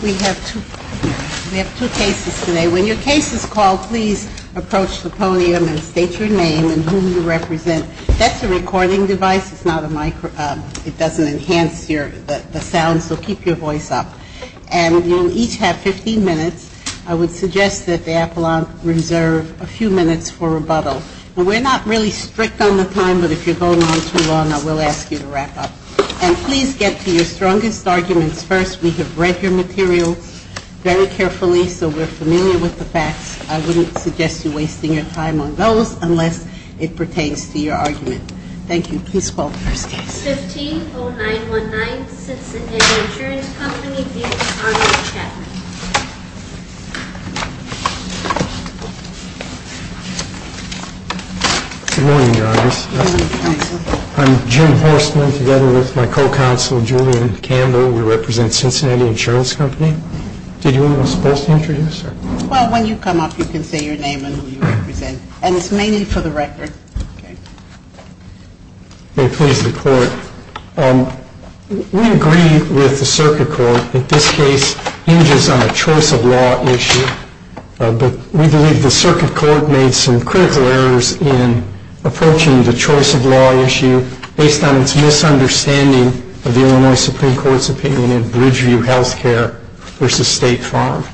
We have two cases today. When your case is called, please approach the podium and state your name and whom you represent. That's a recording device. It's not a microphone. It doesn't enhance the sound, so keep your voice up. And you'll each have 15 minutes. I would suggest that the appellant reserve a few minutes for rebuttal. And we're not really strict on the time, but if you're going on too long, I will ask you to wrap up. And please get to your strongest arguments first. We have read your materials very carefully, so we're familiar with the facts. I wouldn't suggest you wasting your time on those unless it pertains to your argument. Thank you. Please call the first case. 150919, Cincinnati Insurance Company v. Arnold Chapman. Good morning, guys. I'm Jim Horstman, together with my co-counsel, Julian Campbell. We represent Cincinnati Insurance Company. Did you want to introduce yourself? Well, when you come up, you can say your name and who you represent. And it's mainly for the record. May it please the Court. We agree with the circuit court that this case injures our reputation. We believe the circuit court made some critical errors in approaching the choice of law issue based on its misunderstanding of the Illinois Supreme Court's opinion in Bridgeview Health Care v. State Farm.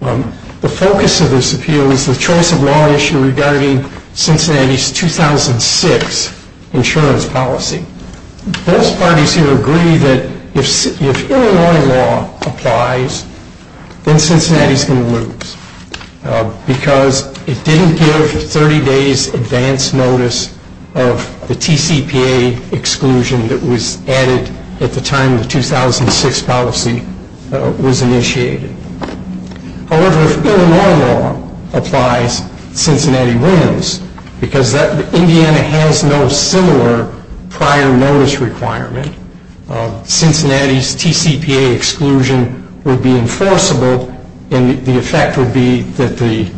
The focus of this appeal is the choice of law issue regarding Cincinnati's 2006 insurance policy. Both parties here agree that if Illinois law applies, then Cincinnati's going to lose because it didn't give 30 days advance notice of the TCPA exclusion that was added at the time the 2006 policy was initiated. However, if Illinois law applies, Cincinnati wins because Indiana has no similar prior notice requirement. Cincinnati's TCPA exclusion would be enforceable, and the effect would be that the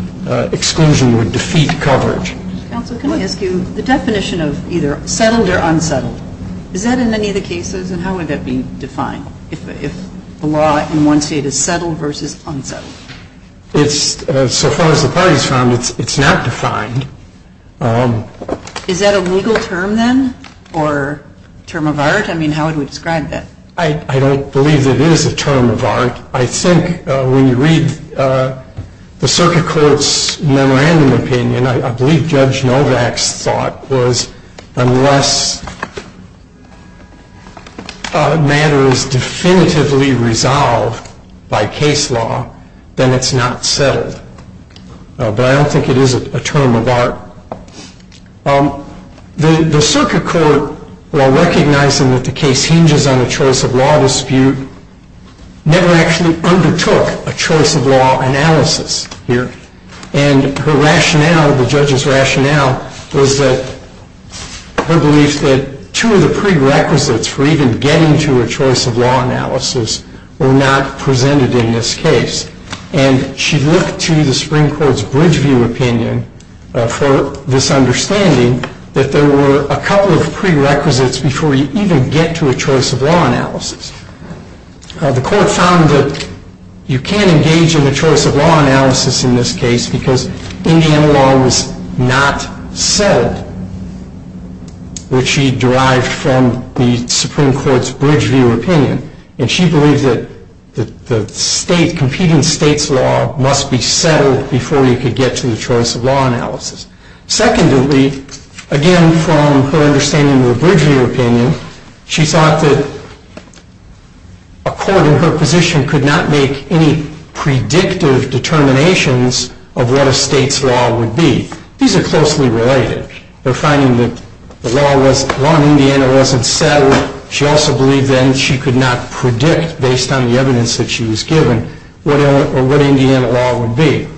exclusion would defeat coverage. Counsel, can I ask you, the definition of either settled or unsettled, is that in any of the cases? How would that be defined, if the law in one state is settled versus unsettled? It's, so far as the parties found, it's not defined. Is that a legal term, then, or a term of art? I mean, how would we describe that? I don't believe it is a term of art. I think when you read the circuit court's memorandum opinion, I believe Judge Novak's thought was, unless a matter is definitively resolved by case law, then it's not settled. But I don't think it is a term of art. The circuit court, while recognizing that the case hinges on a choice of law dispute, never actually undertook a choice of law analysis here. And her rationale, the judge's rationale, was that her belief that two of the prerequisites for even getting to a choice of law analysis were not presented in this case. And she looked to the Supreme Court's Bridgeview opinion for this understanding, that there were a couple of prerequisites before you even get to a choice of law analysis. The court found that you can't engage in a choice of law analysis in this case, because Indiana law was not settled, which she derived from the Supreme Court's Bridgeview opinion. And she believed that the competing state's law must be settled before you could get to the choice of law analysis. Secondly, again from her understanding of the Bridgeview opinion, she thought that a court in her position could not make any predictive determinations of what a state's law would be. These are closely related. They're finding that law in Indiana wasn't settled. She also believed then she could not predict, based on the evidence that she was given, what Indiana law would be.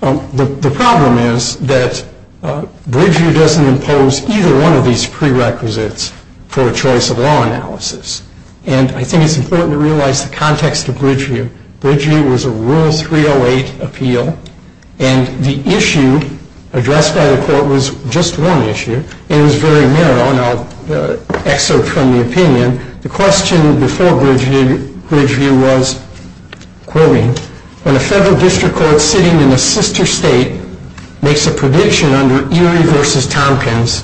The problem is that Bridgeview doesn't impose either one of these prerequisites for a choice of law analysis. And I think it's important to realize the context of Bridgeview. Bridgeview was a Rule 308 appeal, and the issue addressed by the court was just one issue. It was very narrow, and I'll excerpt from the opinion. The question before Bridgeview was, quoting, when a federal district court sitting in a sister state makes a prediction under Erie v. Tompkins,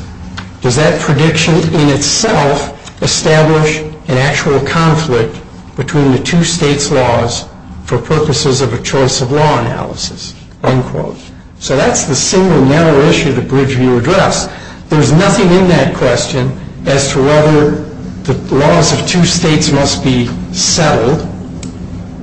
does that prediction in itself establish an actual conflict between the two states' laws for purposes of a choice of law analysis, unquote. So that's the single narrow issue that Bridgeview addressed. There's nothing in that question as to whether the laws of two states must be settled,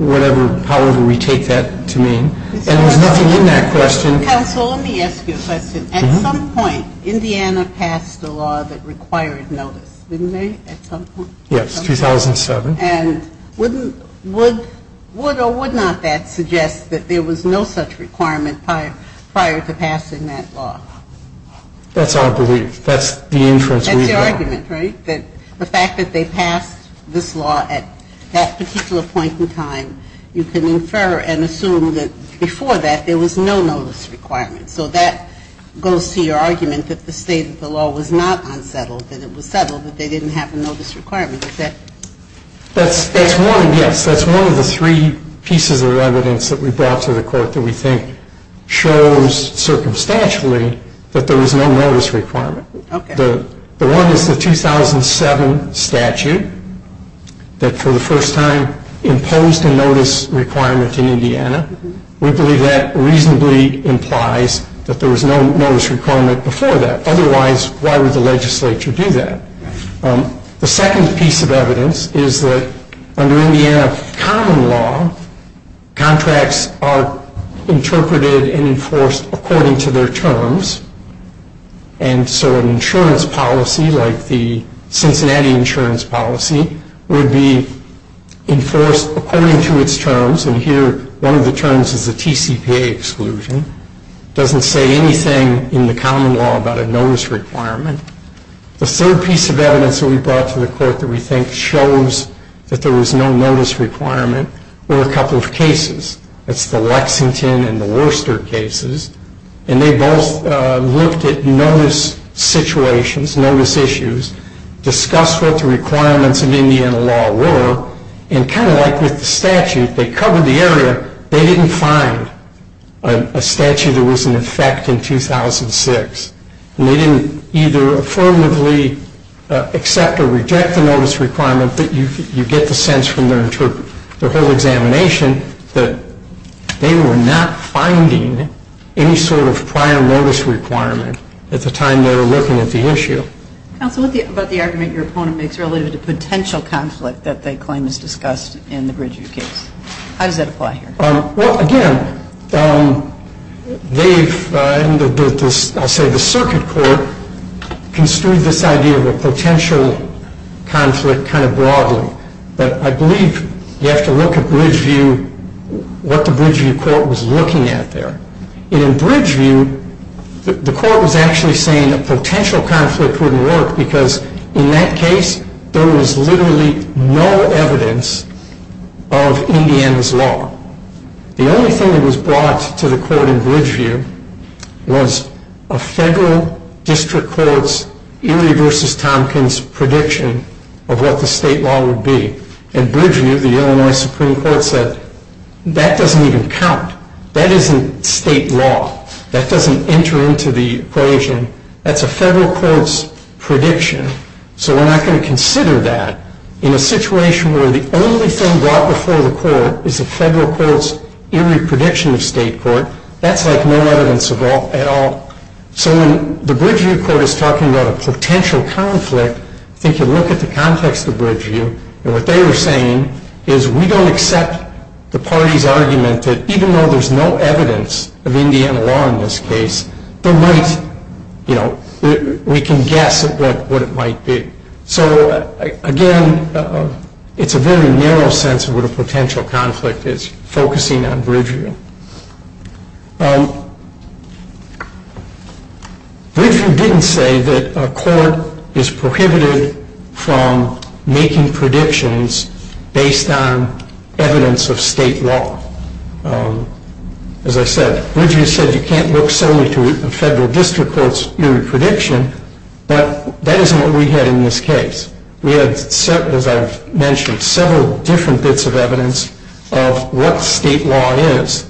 whatever, however we take that to mean. And there's nothing in that question. I'm sorry. Counsel, let me ask you a question. At some point, Indiana passed a law that required notice, didn't they, at some point? Yes, 2007. And would or would not that suggest that there was no such requirement prior to passing that law? That's our belief. That's the inference we draw. That's your argument, right? That the fact that they passed this law at that particular point in time, you can infer and assume that before that there was no notice requirement. So that goes to your argument that the state of the law was not unsettled, that it was settled, that they didn't have a notice requirement. Is that? That's one, yes. That's one of the three pieces of evidence that we brought to the court that we think shows circumstantially that there was no notice requirement. Okay. The one is the 2007 statute that for the first time imposed a notice requirement in Indiana. We believe that reasonably implies that there was no notice requirement before that. Otherwise, why would the legislature do that? The second piece of evidence is that under Indiana common law, contracts are interpreted and enforced according to their terms. And so an insurance policy like the Cincinnati insurance policy would be enforced according to its terms. And here, one of the terms is a TCPA exclusion. It doesn't say anything in the common law about a notice requirement. The third piece of evidence that we brought to the court that we think shows that there was no notice requirement were a couple of cases. That's the Lexington and the Worcester cases. And they both looked at notice situations, notice issues, discussed what the requirements of Indiana law were, and kind of like with the statute, they covered the area. They didn't find a statute that was in effect in 2006. And they didn't either affirmatively accept or reject the notice requirement, but you get the sense from their whole examination that they were not finding any sort of prior notice requirement at the time they were looking at the issue. Counsel, what about the argument your opponent makes relative to potential conflict that they claim is discussed in the Bridgeview case? How does that apply here? Well, again, they've, I'll say the circuit court, construed this idea of a potential conflict kind of broadly. But I believe you have to look at Bridgeview, what the Bridgeview court was looking at there. And in Bridgeview, the court was actually saying that potential conflict wouldn't work because in that case, there was literally no evidence of Indiana's law. The only thing that was brought to the court in Bridgeview was a federal district court's Erie v. Tompkins prediction of what the state law would be. In Bridgeview, the Illinois Supreme Court said, that doesn't even count. That isn't state law. That doesn't enter into the equation. That's a federal court's prediction. So we're not going to consider that in a situation where the only thing brought before the court is a federal court's Erie prediction of state court. That's like no evidence at all. So when the Bridgeview court is talking about a potential conflict, I think you look at the context of Bridgeview, and what they were saying is we don't accept the party's argument that even though there's no evidence of Indiana law in this case, we can guess at what it might be. So again, it's a very narrow sense of what a potential conflict is, focusing on Bridgeview. Bridgeview didn't say that a court is prohibited from making predictions based on evidence of state law. As I said, Bridgeview said you can't look solely to a federal district court's Erie prediction, but that isn't what we had in this case. We had, as I've mentioned, several different bits of evidence of what state law is.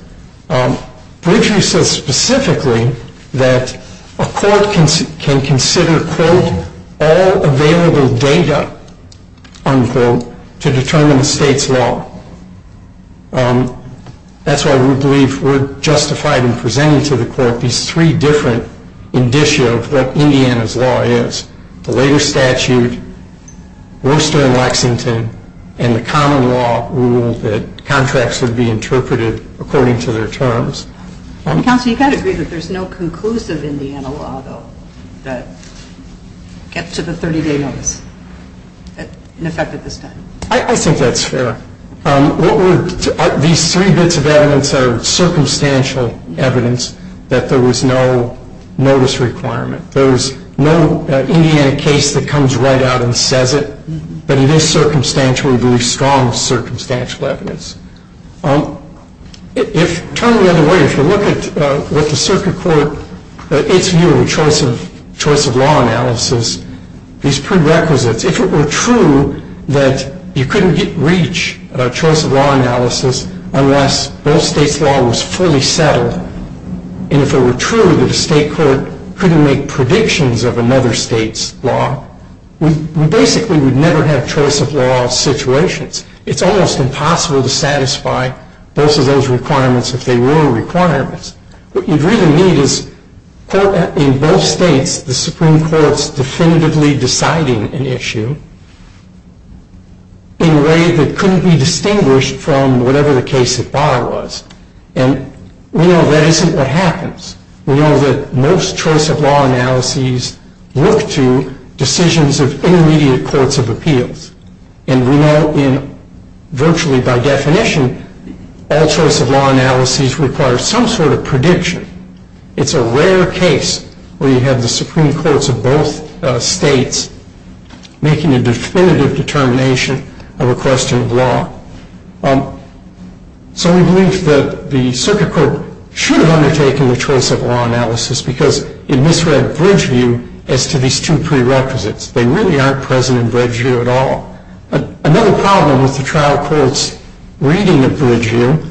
Bridgeview says specifically that a court can consider, quote, all available data, unquote, to determine a state's law. That's why we believe we're justified in presenting to the court these three different indicia of what Indiana's law is, the later statute, Worcester and Lexington, and the common law rule that contracts would be interpreted according to their terms. Counsel, you've got to agree that there's no conclusive Indiana law, though, that gets to the 30-day notice in effect at this time. I think that's fair. These three bits of evidence are circumstantial evidence that there was no notice requirement. There's no Indiana case that comes right out and says it, but it is circumstantially very strong circumstantial evidence. Turn the other way. If you look at what the circuit court, its view of a choice of law analysis, these prerequisites, if it were true that you couldn't reach a choice of law analysis unless both states' law was fully settled, and if it were true that a state court couldn't make predictions of another state's law, we basically would never have choice of law situations. It's almost impossible to satisfy both of those requirements if they were requirements. What you'd really need is in both states, the Supreme Court's definitively deciding an issue in a way that couldn't be distinguished from whatever the case at bar was. And we know that isn't what happens. We know that most choice of law analyses look to decisions of intermediate courts of appeals. And we know in virtually by definition all choice of law analyses require some sort of prediction. It's a rare case where you have the Supreme Courts of both states making a definitive determination of a question of law. So we believe that the circuit court should have undertaken the choice of law analysis because it misread Bridgeview as to these two prerequisites. They really aren't present in Bridgeview at all. Another problem with the trial court's reading of Bridgeview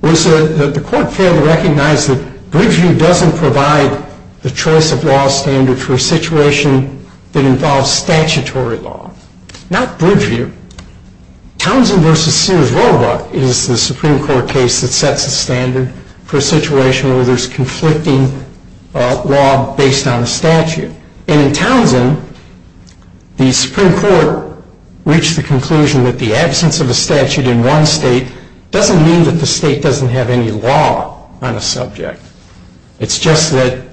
was that the court failed to recognize that Bridgeview doesn't provide the choice of law standard for a situation that involves statutory law. Not Bridgeview. Townsend v. Sears-Robach is the Supreme Court case that sets a standard for a situation where there's conflicting law based on a statute. And in Townsend, the Supreme Court reached the conclusion that the absence of a statute in one state doesn't mean that the state doesn't have any law on a subject. It's just that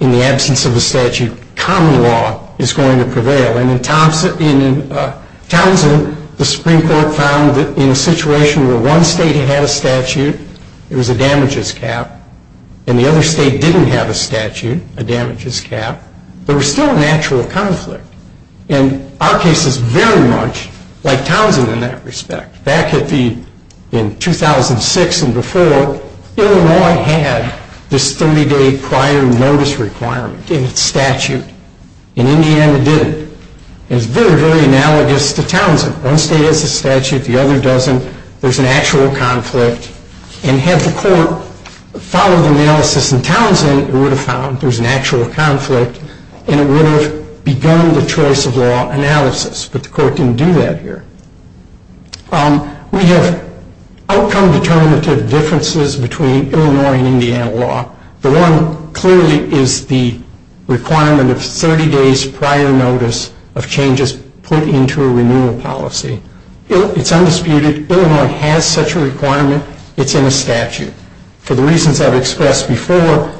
in the absence of a statute, common law is going to prevail. And in Townsend, the Supreme Court found that in a situation where one state had a statute, it was a damages cap, and the other state didn't have a statute, a damages cap, there was still an actual conflict. And our case is very much like Townsend in that respect. Back in 2006 and before, Illinois had this 30-day prior notice requirement in its statute, and Indiana didn't. And it's very, very analogous to Townsend. One state has a statute. The other doesn't. There's an actual conflict. And had the court followed the analysis in Townsend, it would have found there's an actual conflict, and it would have begun the choice of law analysis. But the court didn't do that here. We have outcome determinative differences between Illinois and Indiana law. The one clearly is the requirement of 30 days prior notice of changes put into a renewal policy. It's undisputed. Illinois has such a requirement. It's in a statute. For the reasons I've expressed before,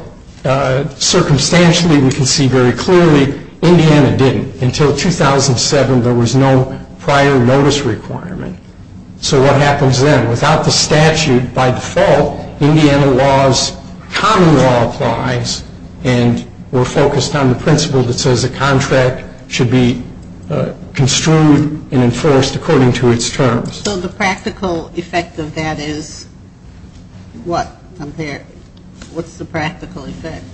circumstantially we can see very clearly Indiana didn't. Until 2007, there was no prior notice requirement. So what happens then? Without the statute, by default, Indiana law's common law applies, and we're focused on the principle that says a contract should be construed and enforced according to its terms. So the practical effect of that is what? What's the practical effect?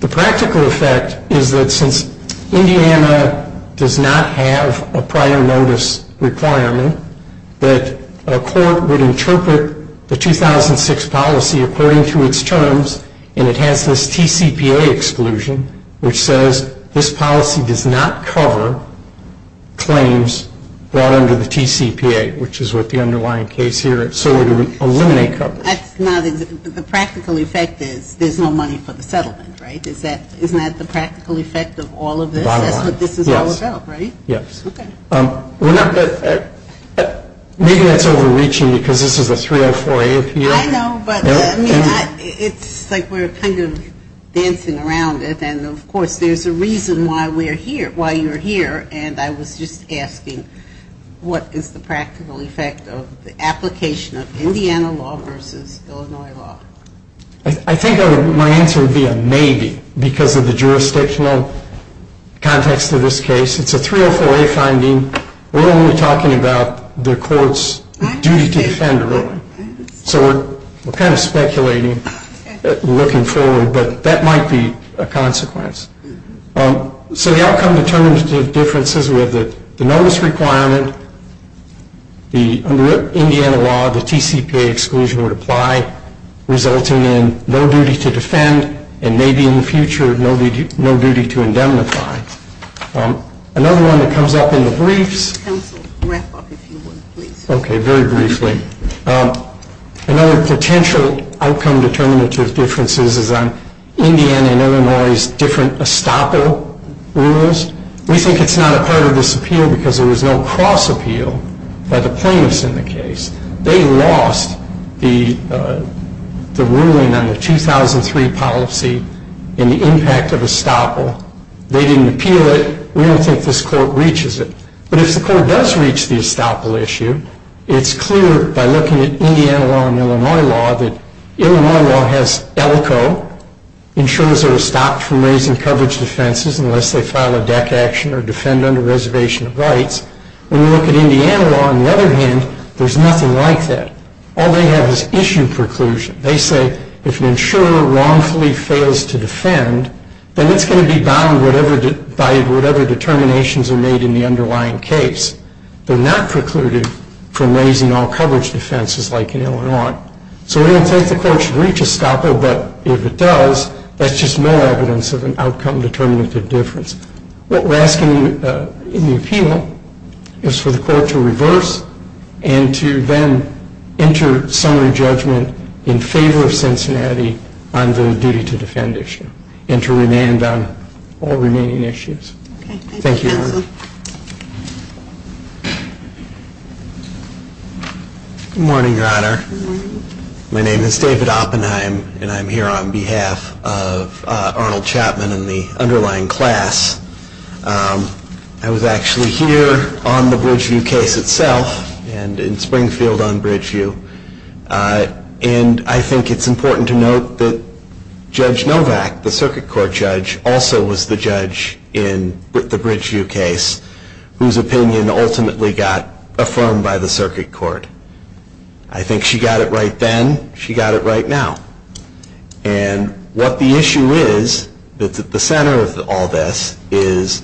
The practical effect is that since Indiana does not have a prior notice requirement, that a court would interpret the 2006 policy according to its terms, and it has this TCPA exclusion, which says this policy does not cover claims brought under the TCPA, which is what the underlying case here is. So it would eliminate coverage. The practical effect is there's no money for the settlement, right? Isn't that the practical effect of all of this? That's what this is all about, right? Yes. Okay. Maybe that's overreaching because this is a 304A appeal. I know, but it's like we're kind of dancing around it, and of course there's a reason why we're here, why you're here, and I was just asking what is the practical effect of the application of Indiana law versus Illinois law? I think my answer would be a maybe because of the jurisdictional context of this case. It's a 304A finding. We're only talking about the court's duty to defend, really. So we're kind of speculating, looking forward, but that might be a consequence. So the outcome determines the differences with the notice requirement, the Indiana law, the TCPA exclusion would apply, resulting in no duty to defend and maybe in the future no duty to indemnify. Another one that comes up in the briefs. Counsel, wrap up if you would, please. Okay, very briefly. Another potential outcome determinative difference is on Indiana and Illinois' different estoppel rules. We think it's not a part of this appeal because there was no cross appeal by the plaintiffs in the case. They lost the ruling on the 2003 policy in the impact of estoppel. They didn't appeal it. We don't think this court reaches it. But if the court does reach the estoppel issue, it's clear by looking at Indiana law and Illinois law that Illinois law has ELCO, ensures they're stopped from raising coverage defenses unless they file a DEC action or defend under reservation of rights. When you look at Indiana law, on the other hand, there's nothing like that. All they have is issue preclusion. They say if an insurer wrongfully fails to defend, then it's going to be bound by whatever determinations are made in the underlying case. They're not precluded from raising all coverage defenses like in Illinois. So we don't think the court should reach estoppel. But if it does, that's just more evidence of an outcome determinative difference. What we're asking in the appeal is for the court to reverse and to then enter summary judgment in favor of Cincinnati on the duty to defend issue and to remand on all remaining issues. Thank you, Your Honor. Good morning, Your Honor. My name is David Oppenheim, and I'm here on behalf of Arnold Chapman and the underlying class. I was actually here on the Bridgeview case itself and in Springfield on Bridgeview. And I think it's important to note that Judge Novak, the circuit court judge, also was the judge in the Bridgeview case, whose opinion ultimately got affirmed by the circuit court. I think she got it right then. She got it right now. And what the issue is that's at the center of all this is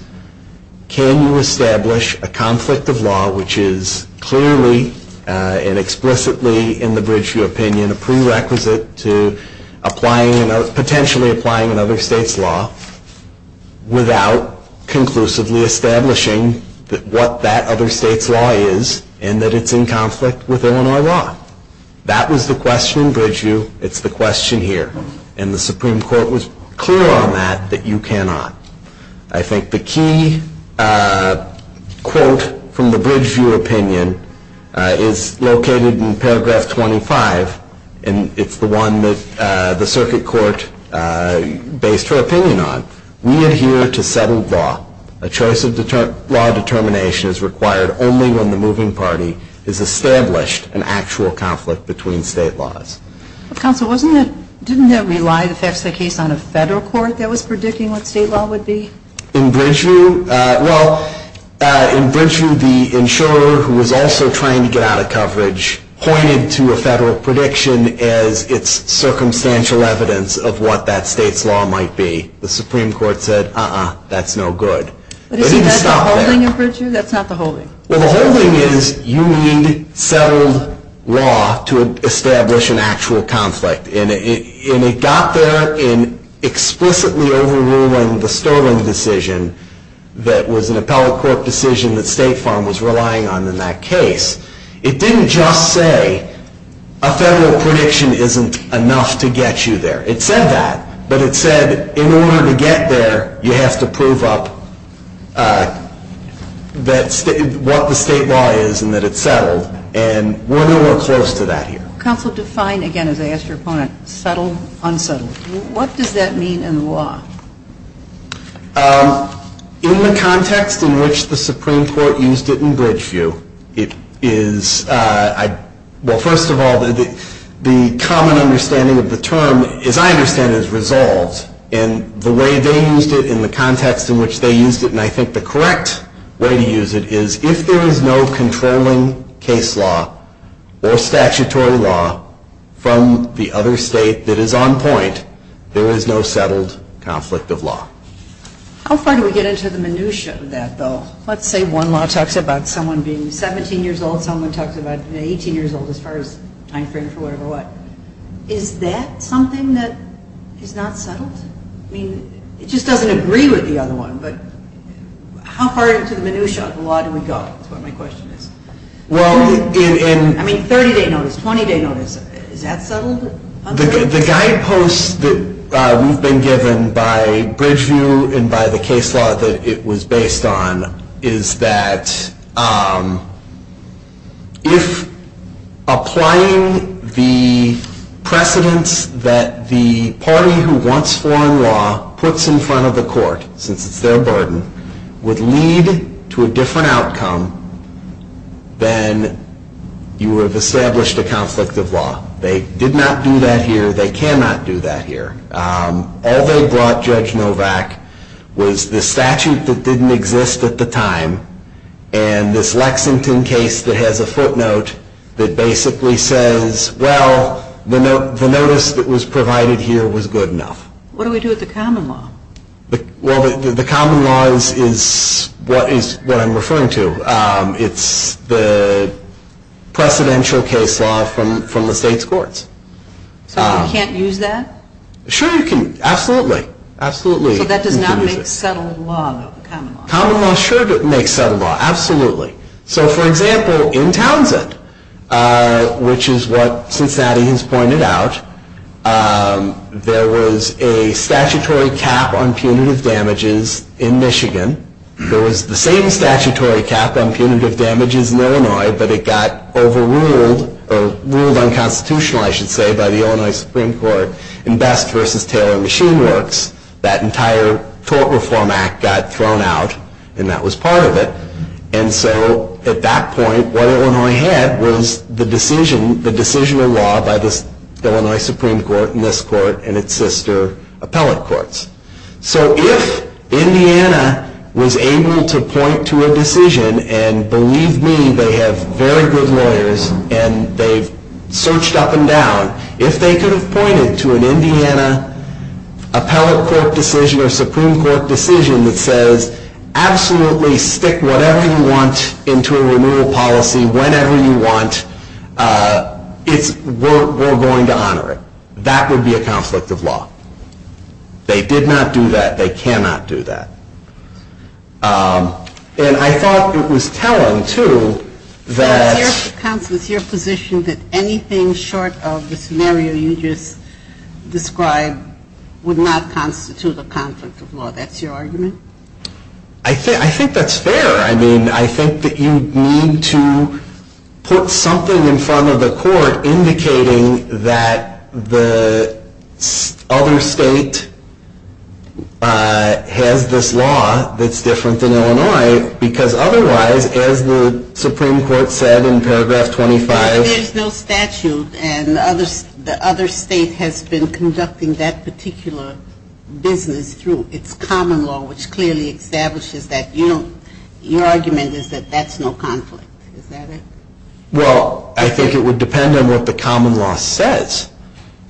can you establish a conflict of law which is clearly and explicitly, in the Bridgeview opinion, a prerequisite to potentially applying another state's law without conclusively establishing what that other state's law is and that it's in conflict with Illinois law. That was the question in Bridgeview. It's the question here. And the Supreme Court was clear on that, that you cannot. I think the key quote from the Bridgeview opinion is located in paragraph 25, and it's the one that the circuit court based her opinion on. We adhere to settled law. A choice of law determination is required only when the moving party has established an actual conflict between state laws. Counsel, didn't that rely, the facts of the case, on a federal court that was predicting what state law would be? In Bridgeview, well, in Bridgeview, the insurer who was also trying to get out of coverage pointed to a federal prediction as its circumstantial evidence of what that state's law might be. The Supreme Court said, uh-uh, that's no good. But it didn't stop there. But isn't that the holding in Bridgeview? That's not the holding. Well, the holding is you need settled law to establish an actual conflict. And it got there in explicitly overruling the Sterling decision that was an appellate court decision that State Farm was relying on in that case. It didn't just say a federal prediction isn't enough to get you there. It said that, but it said in order to get there, you have to prove up what the state law is and that it's settled. And we're nowhere close to that here. Counsel, define, again, as I asked your opponent, settled, unsettled. What does that mean in the law? In the context in which the Supreme Court used it in Bridgeview, it is, well, first of all, the common understanding of the term, as I understand it, is resolved. And the way they used it in the context in which they used it, and I think the correct way to use it, is if there is no controlling case law or statutory law from the other state that is on point, there is no settled conflict of law. How far do we get into the minutia of that, though? Let's say one law talks about someone being 17 years old, someone talks about being 18 years old, as far as timeframe for whatever what. Is that something that is not settled? I mean, it just doesn't agree with the other one. But how far into the minutia of the law do we go, is what my question is. I mean, 30-day notice, 20-day notice, is that settled? The guideposts that we've been given by Bridgeview and by the case law that it was based on, is that if applying the precedence that the party who wants foreign law puts in front of the court, since it's their burden, would lead to a different outcome, then you have established a conflict of law. They did not do that here. They cannot do that here. All they brought, Judge Novak, was the statute that didn't exist at the time and this Lexington case that has a footnote that basically says, well, the notice that was provided here was good enough. What do we do with the common law? Well, the common law is what I'm referring to. So you can't use that? Sure you can, absolutely. So that does not make settled law, though, the common law? Common law sure makes settled law, absolutely. So, for example, in Townsend, which is what Cincinnati has pointed out, there was a statutory cap on punitive damages in Michigan. There was the same statutory cap on punitive damages in Illinois, but it got overruled, or ruled unconstitutional, I should say, by the Illinois Supreme Court in Best v. Taylor and Machine Works. That entire Tort Reform Act got thrown out, and that was part of it. And so at that point, what Illinois had was the decision, the decision of law by the Illinois Supreme Court and this court and its sister appellate courts. So if Indiana was able to point to a decision, and believe me, they have very good lawyers, and they've searched up and down. If they could have pointed to an Indiana appellate court decision or Supreme Court decision that says, absolutely stick whatever you want into a renewal policy whenever you want, we're going to honor it. That would be a conflict of law. They did not do that. They cannot do that. And I thought it was telling, too, that... Well, it's your position that anything short of the scenario you just described would not constitute a conflict of law. That's your argument? I think that's fair. I mean, I think that you need to put something in front of the court indicating that the other state has this law that's different than Illinois, because otherwise, as the Supreme Court said in paragraph 25... But there's no statute, and the other state has been conducting that particular business through its common law, which clearly establishes that. Your argument is that that's no conflict. Is that it? Well, I think it would depend on what the common law says.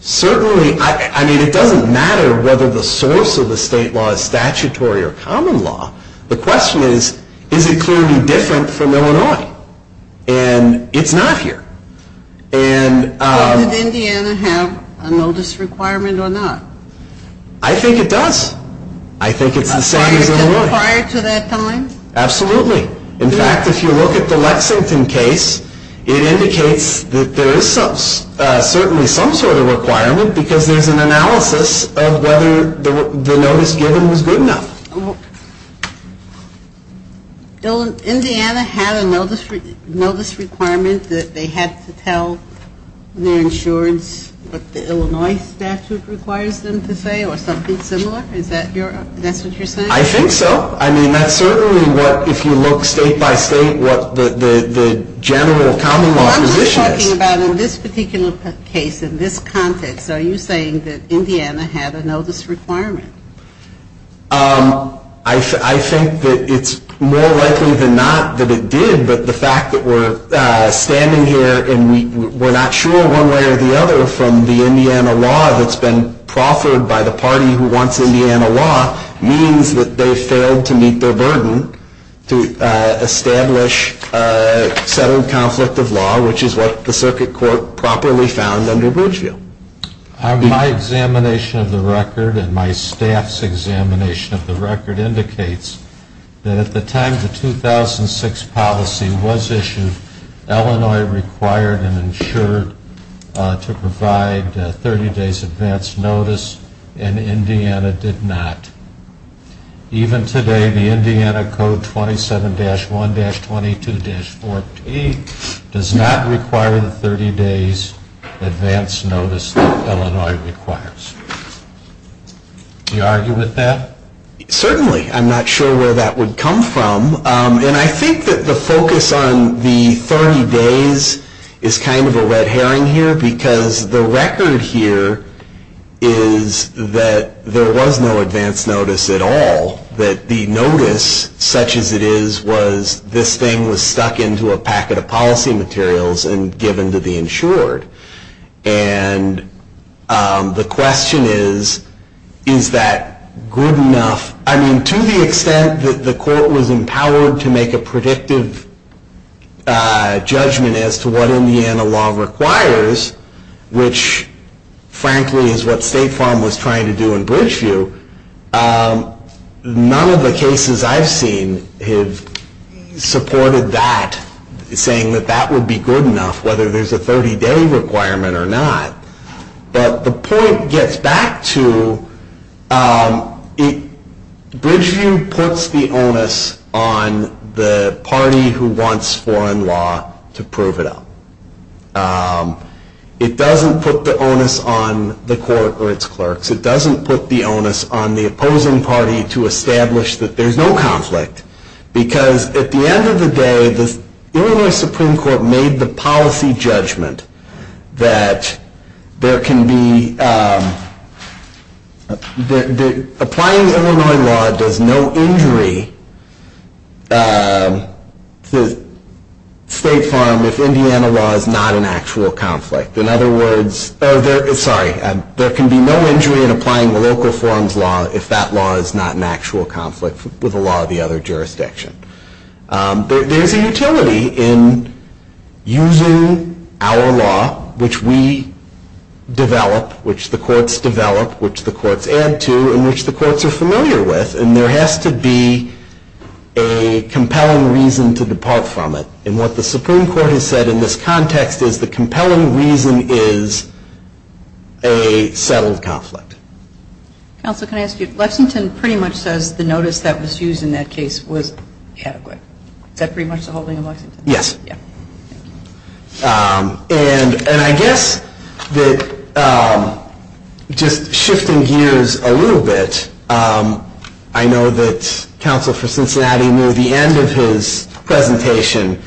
Certainly, I mean, it doesn't matter whether the source of the state law is statutory or common law. The question is, is it clearly different from Illinois? And it's not here. Does Indiana have a notice requirement or not? I think it does. I think it's the same as Illinois. Prior to that time? Absolutely. In fact, if you look at the Lexington case, it indicates that there is certainly some sort of requirement because there's an analysis of whether the notice given was good enough. Indiana had a notice requirement that they had to tell their insurance what the Illinois statute requires them to say or something similar? Is that what you're saying? I think so. I mean, that's certainly what, if you look state by state, what the general common law position is. I'm just talking about in this particular case, in this context, are you saying that Indiana had a notice requirement? I think that it's more likely than not that it did, but the fact that we're standing here and we're not sure one way or the other from the Indiana law that's been proffered by the party who wants Indiana law means that they failed to meet their burden to establish settled conflict of law, which is what the circuit court properly found under Bridgeview. My examination of the record and my staff's examination of the record indicates that at the time the 2006 policy was issued, Illinois required and insured to provide 30 days advance notice and Indiana did not. Even today, the Indiana Code 27-1-22-4P does not require the 30 days advance notice that Illinois requires. Do you argue with that? Certainly. I'm not sure where that would come from, and I think that the focus on the 30 days is kind of a red herring here because the record here is that there was no advance notice at all, that the notice, such as it is, was this thing was stuck into a packet of policy materials and given to the insured. And the question is, is that good enough? I mean, to the extent that the court was empowered to make a predictive judgment as to what Indiana law requires, which frankly is what State Farm was trying to do in Bridgeview, none of the cases I've seen have supported that, saying that that would be good enough, whether there's a 30-day requirement or not. But the point gets back to, Bridgeview puts the onus on the party who wants foreign law to prove it up. It doesn't put the onus on the court or its clerks. It doesn't put the onus on the opposing party to establish that there's no conflict because at the end of the day, the Illinois Supreme Court made the policy judgment that there can be applying Illinois law does no injury to State Farm if Indiana law is not an actual conflict. In other words, sorry, there can be no injury in applying the local forms law if that law is not an actual conflict with the law of the other jurisdiction. There's a utility in using our law, which we develop, which the courts develop, which the courts add to, and which the courts are familiar with, and there has to be a compelling reason to depart from it. And what the Supreme Court has said in this context is the compelling reason is a settled conflict. Counsel, can I ask you, Lexington pretty much says the notice that was used in that case was adequate. Is that pretty much the holding of Lexington? Yes. And I guess that just shifting gears a little bit, I know that Counsel for Cincinnati near the end of his presentation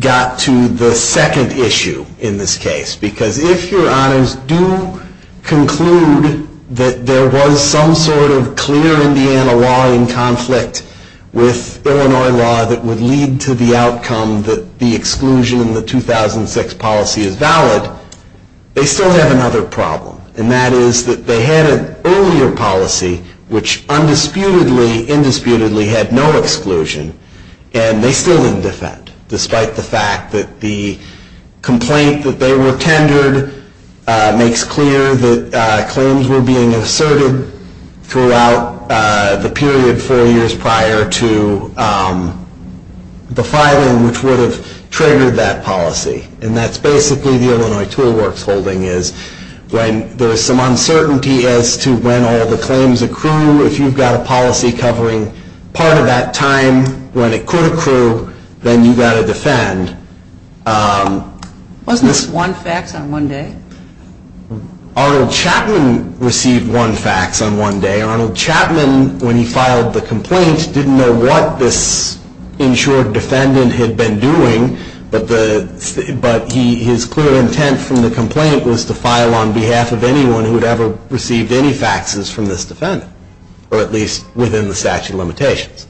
got to the second issue in this case. Because if your honors do conclude that there was some sort of clear Indiana law in conflict with Illinois law that would lead to the outcome that the exclusion in the 2006 policy is valid, they still have another problem. And that is that they had an earlier policy, which undisputedly, indisputably had no exclusion, and they still didn't defend, despite the fact that the complaint that they were tendered makes clear that claims were being asserted throughout the period, four years prior to the filing, which would have triggered that policy. And that's basically the Illinois Tool Works holding is when there is some uncertainty as to when all the claims accrue. If you've got a policy covering part of that time when it could accrue, then you've got to defend. Wasn't this one fax on one day? Arnold Chapman received one fax on one day. Arnold Chapman, when he filed the complaint, didn't know what this insured defendant had been doing, but his clear intent from the complaint was to file on behalf of anyone who had ever received any faxes from this defendant, or at least within the statute of limitations.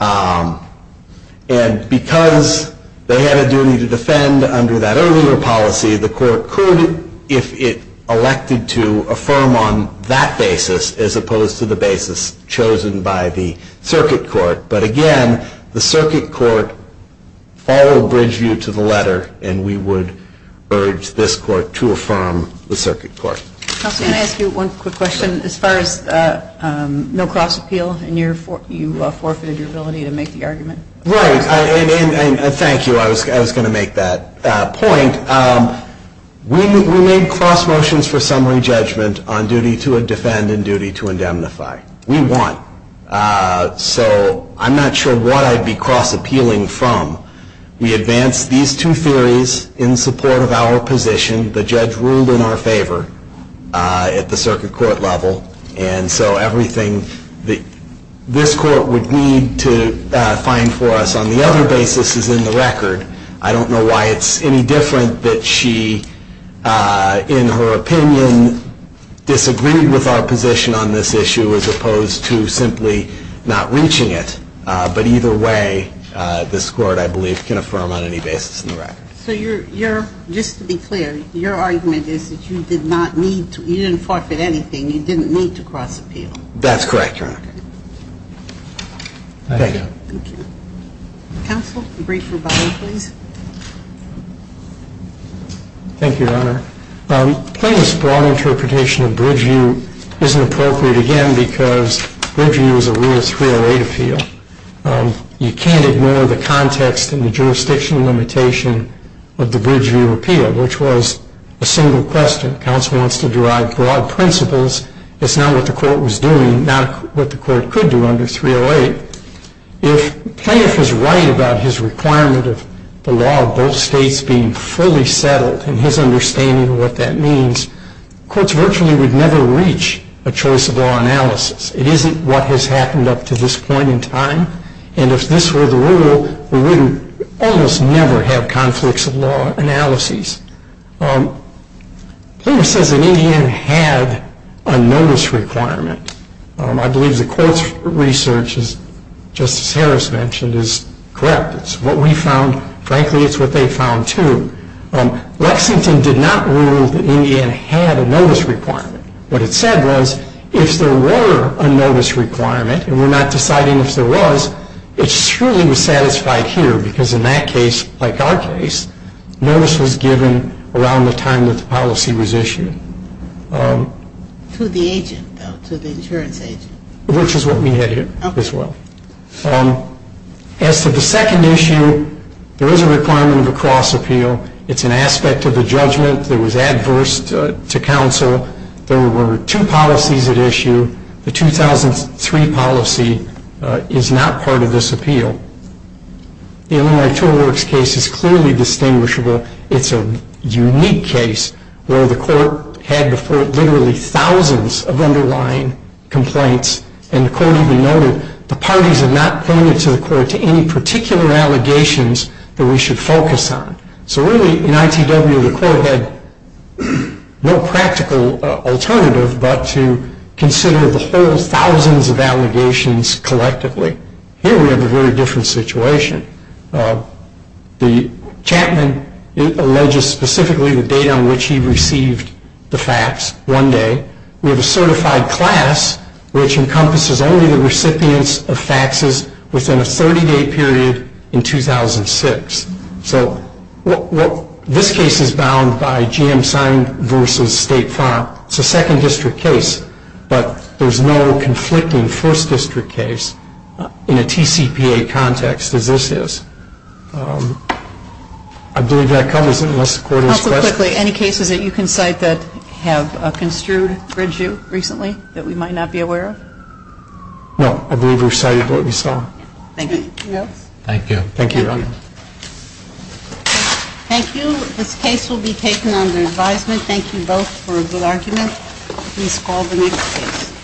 And because they had a duty to defend under that earlier policy, the court could, if it elected to, affirm on that basis as opposed to the basis chosen by the circuit court. But again, the circuit court followed Bridgeview to the letter, and we would urge this court to affirm the circuit court. Counsel, can I ask you one quick question? As far as Mill Cross Appeal, you forfeited your ability to make the argument. Right, and thank you. I was going to make that point. We made cross motions for summary judgment on duty to defend and duty to indemnify. We won. So I'm not sure what I'd be cross appealing from. We advanced these two theories in support of our position. The judge ruled in our favor at the circuit court level, and so everything that this court would need to find for us on the other basis is in the record. I don't know why it's any different that she, in her opinion, disagreed with our position on this issue as opposed to simply not reaching it. But either way, this court, I believe, can affirm on any basis in the record. So just to be clear, your argument is that you didn't forfeit anything. That's correct, Your Honor. Thank you. Counsel, a brief rebuttal, please. Thank you, Your Honor. Playing this broad interpretation of Bridgeview isn't appropriate, again, because Bridgeview is a real 308 appeal. You can't ignore the context and the jurisdictional limitation of the Bridgeview appeal, which was a single question. Counsel wants to derive broad principles. It's not what the court was doing, not what the court could do under 308. If Plaintiff is right about his requirement of the law of both states being fully settled and his understanding of what that means, courts virtually would never reach a choice of law analysis. It isn't what has happened up to this point in time. And if this were the rule, we would almost never have conflicts of law analyses. Plaintiff says an Indian had a notice requirement. I believe the court's research, as Justice Harris mentioned, is correct. It's what we found. Frankly, it's what they found, too. Lexington did not rule that an Indian had a notice requirement. What it said was if there were a notice requirement, and we're not deciding if there was, it surely was satisfied here, because in that case, like our case, notice was given around the time that the policy was issued. To the agent, though, to the insurance agent. Which is what we had here as well. Okay. As to the second issue, there is a requirement of a cross appeal. It's an aspect of the judgment that was adverse to counsel. There were two policies at issue. The 2003 policy is not part of this appeal. The Illinois Tool Works case is clearly distinguishable. It's a unique case where the court had before it literally thousands of underlying complaints, and the court even noted the parties had not pointed to the court to any particular allegations that we should focus on. So really, in ITW, the court had no practical alternative but to consider the whole thousands of allegations collectively. Here we have a very different situation. The Chapman alleges specifically the date on which he received the fax, one day. We have a certified class which encompasses only the recipients of faxes within a 30-day period in 2006. So this case is bound by GM signed versus state font. It's a second district case, but there's no conflicting first district case in a TCPA context as this is. I believe that covers it, unless the court has questions. Also, quickly, any cases that you can cite that have construed bridge you recently that we might not be aware of? No, I believe we've cited what we saw. Thank you. Thank you. Thank you, Ron. Thank you. This case will be taken under advisement. Thank you both for a good argument. Please call the next case.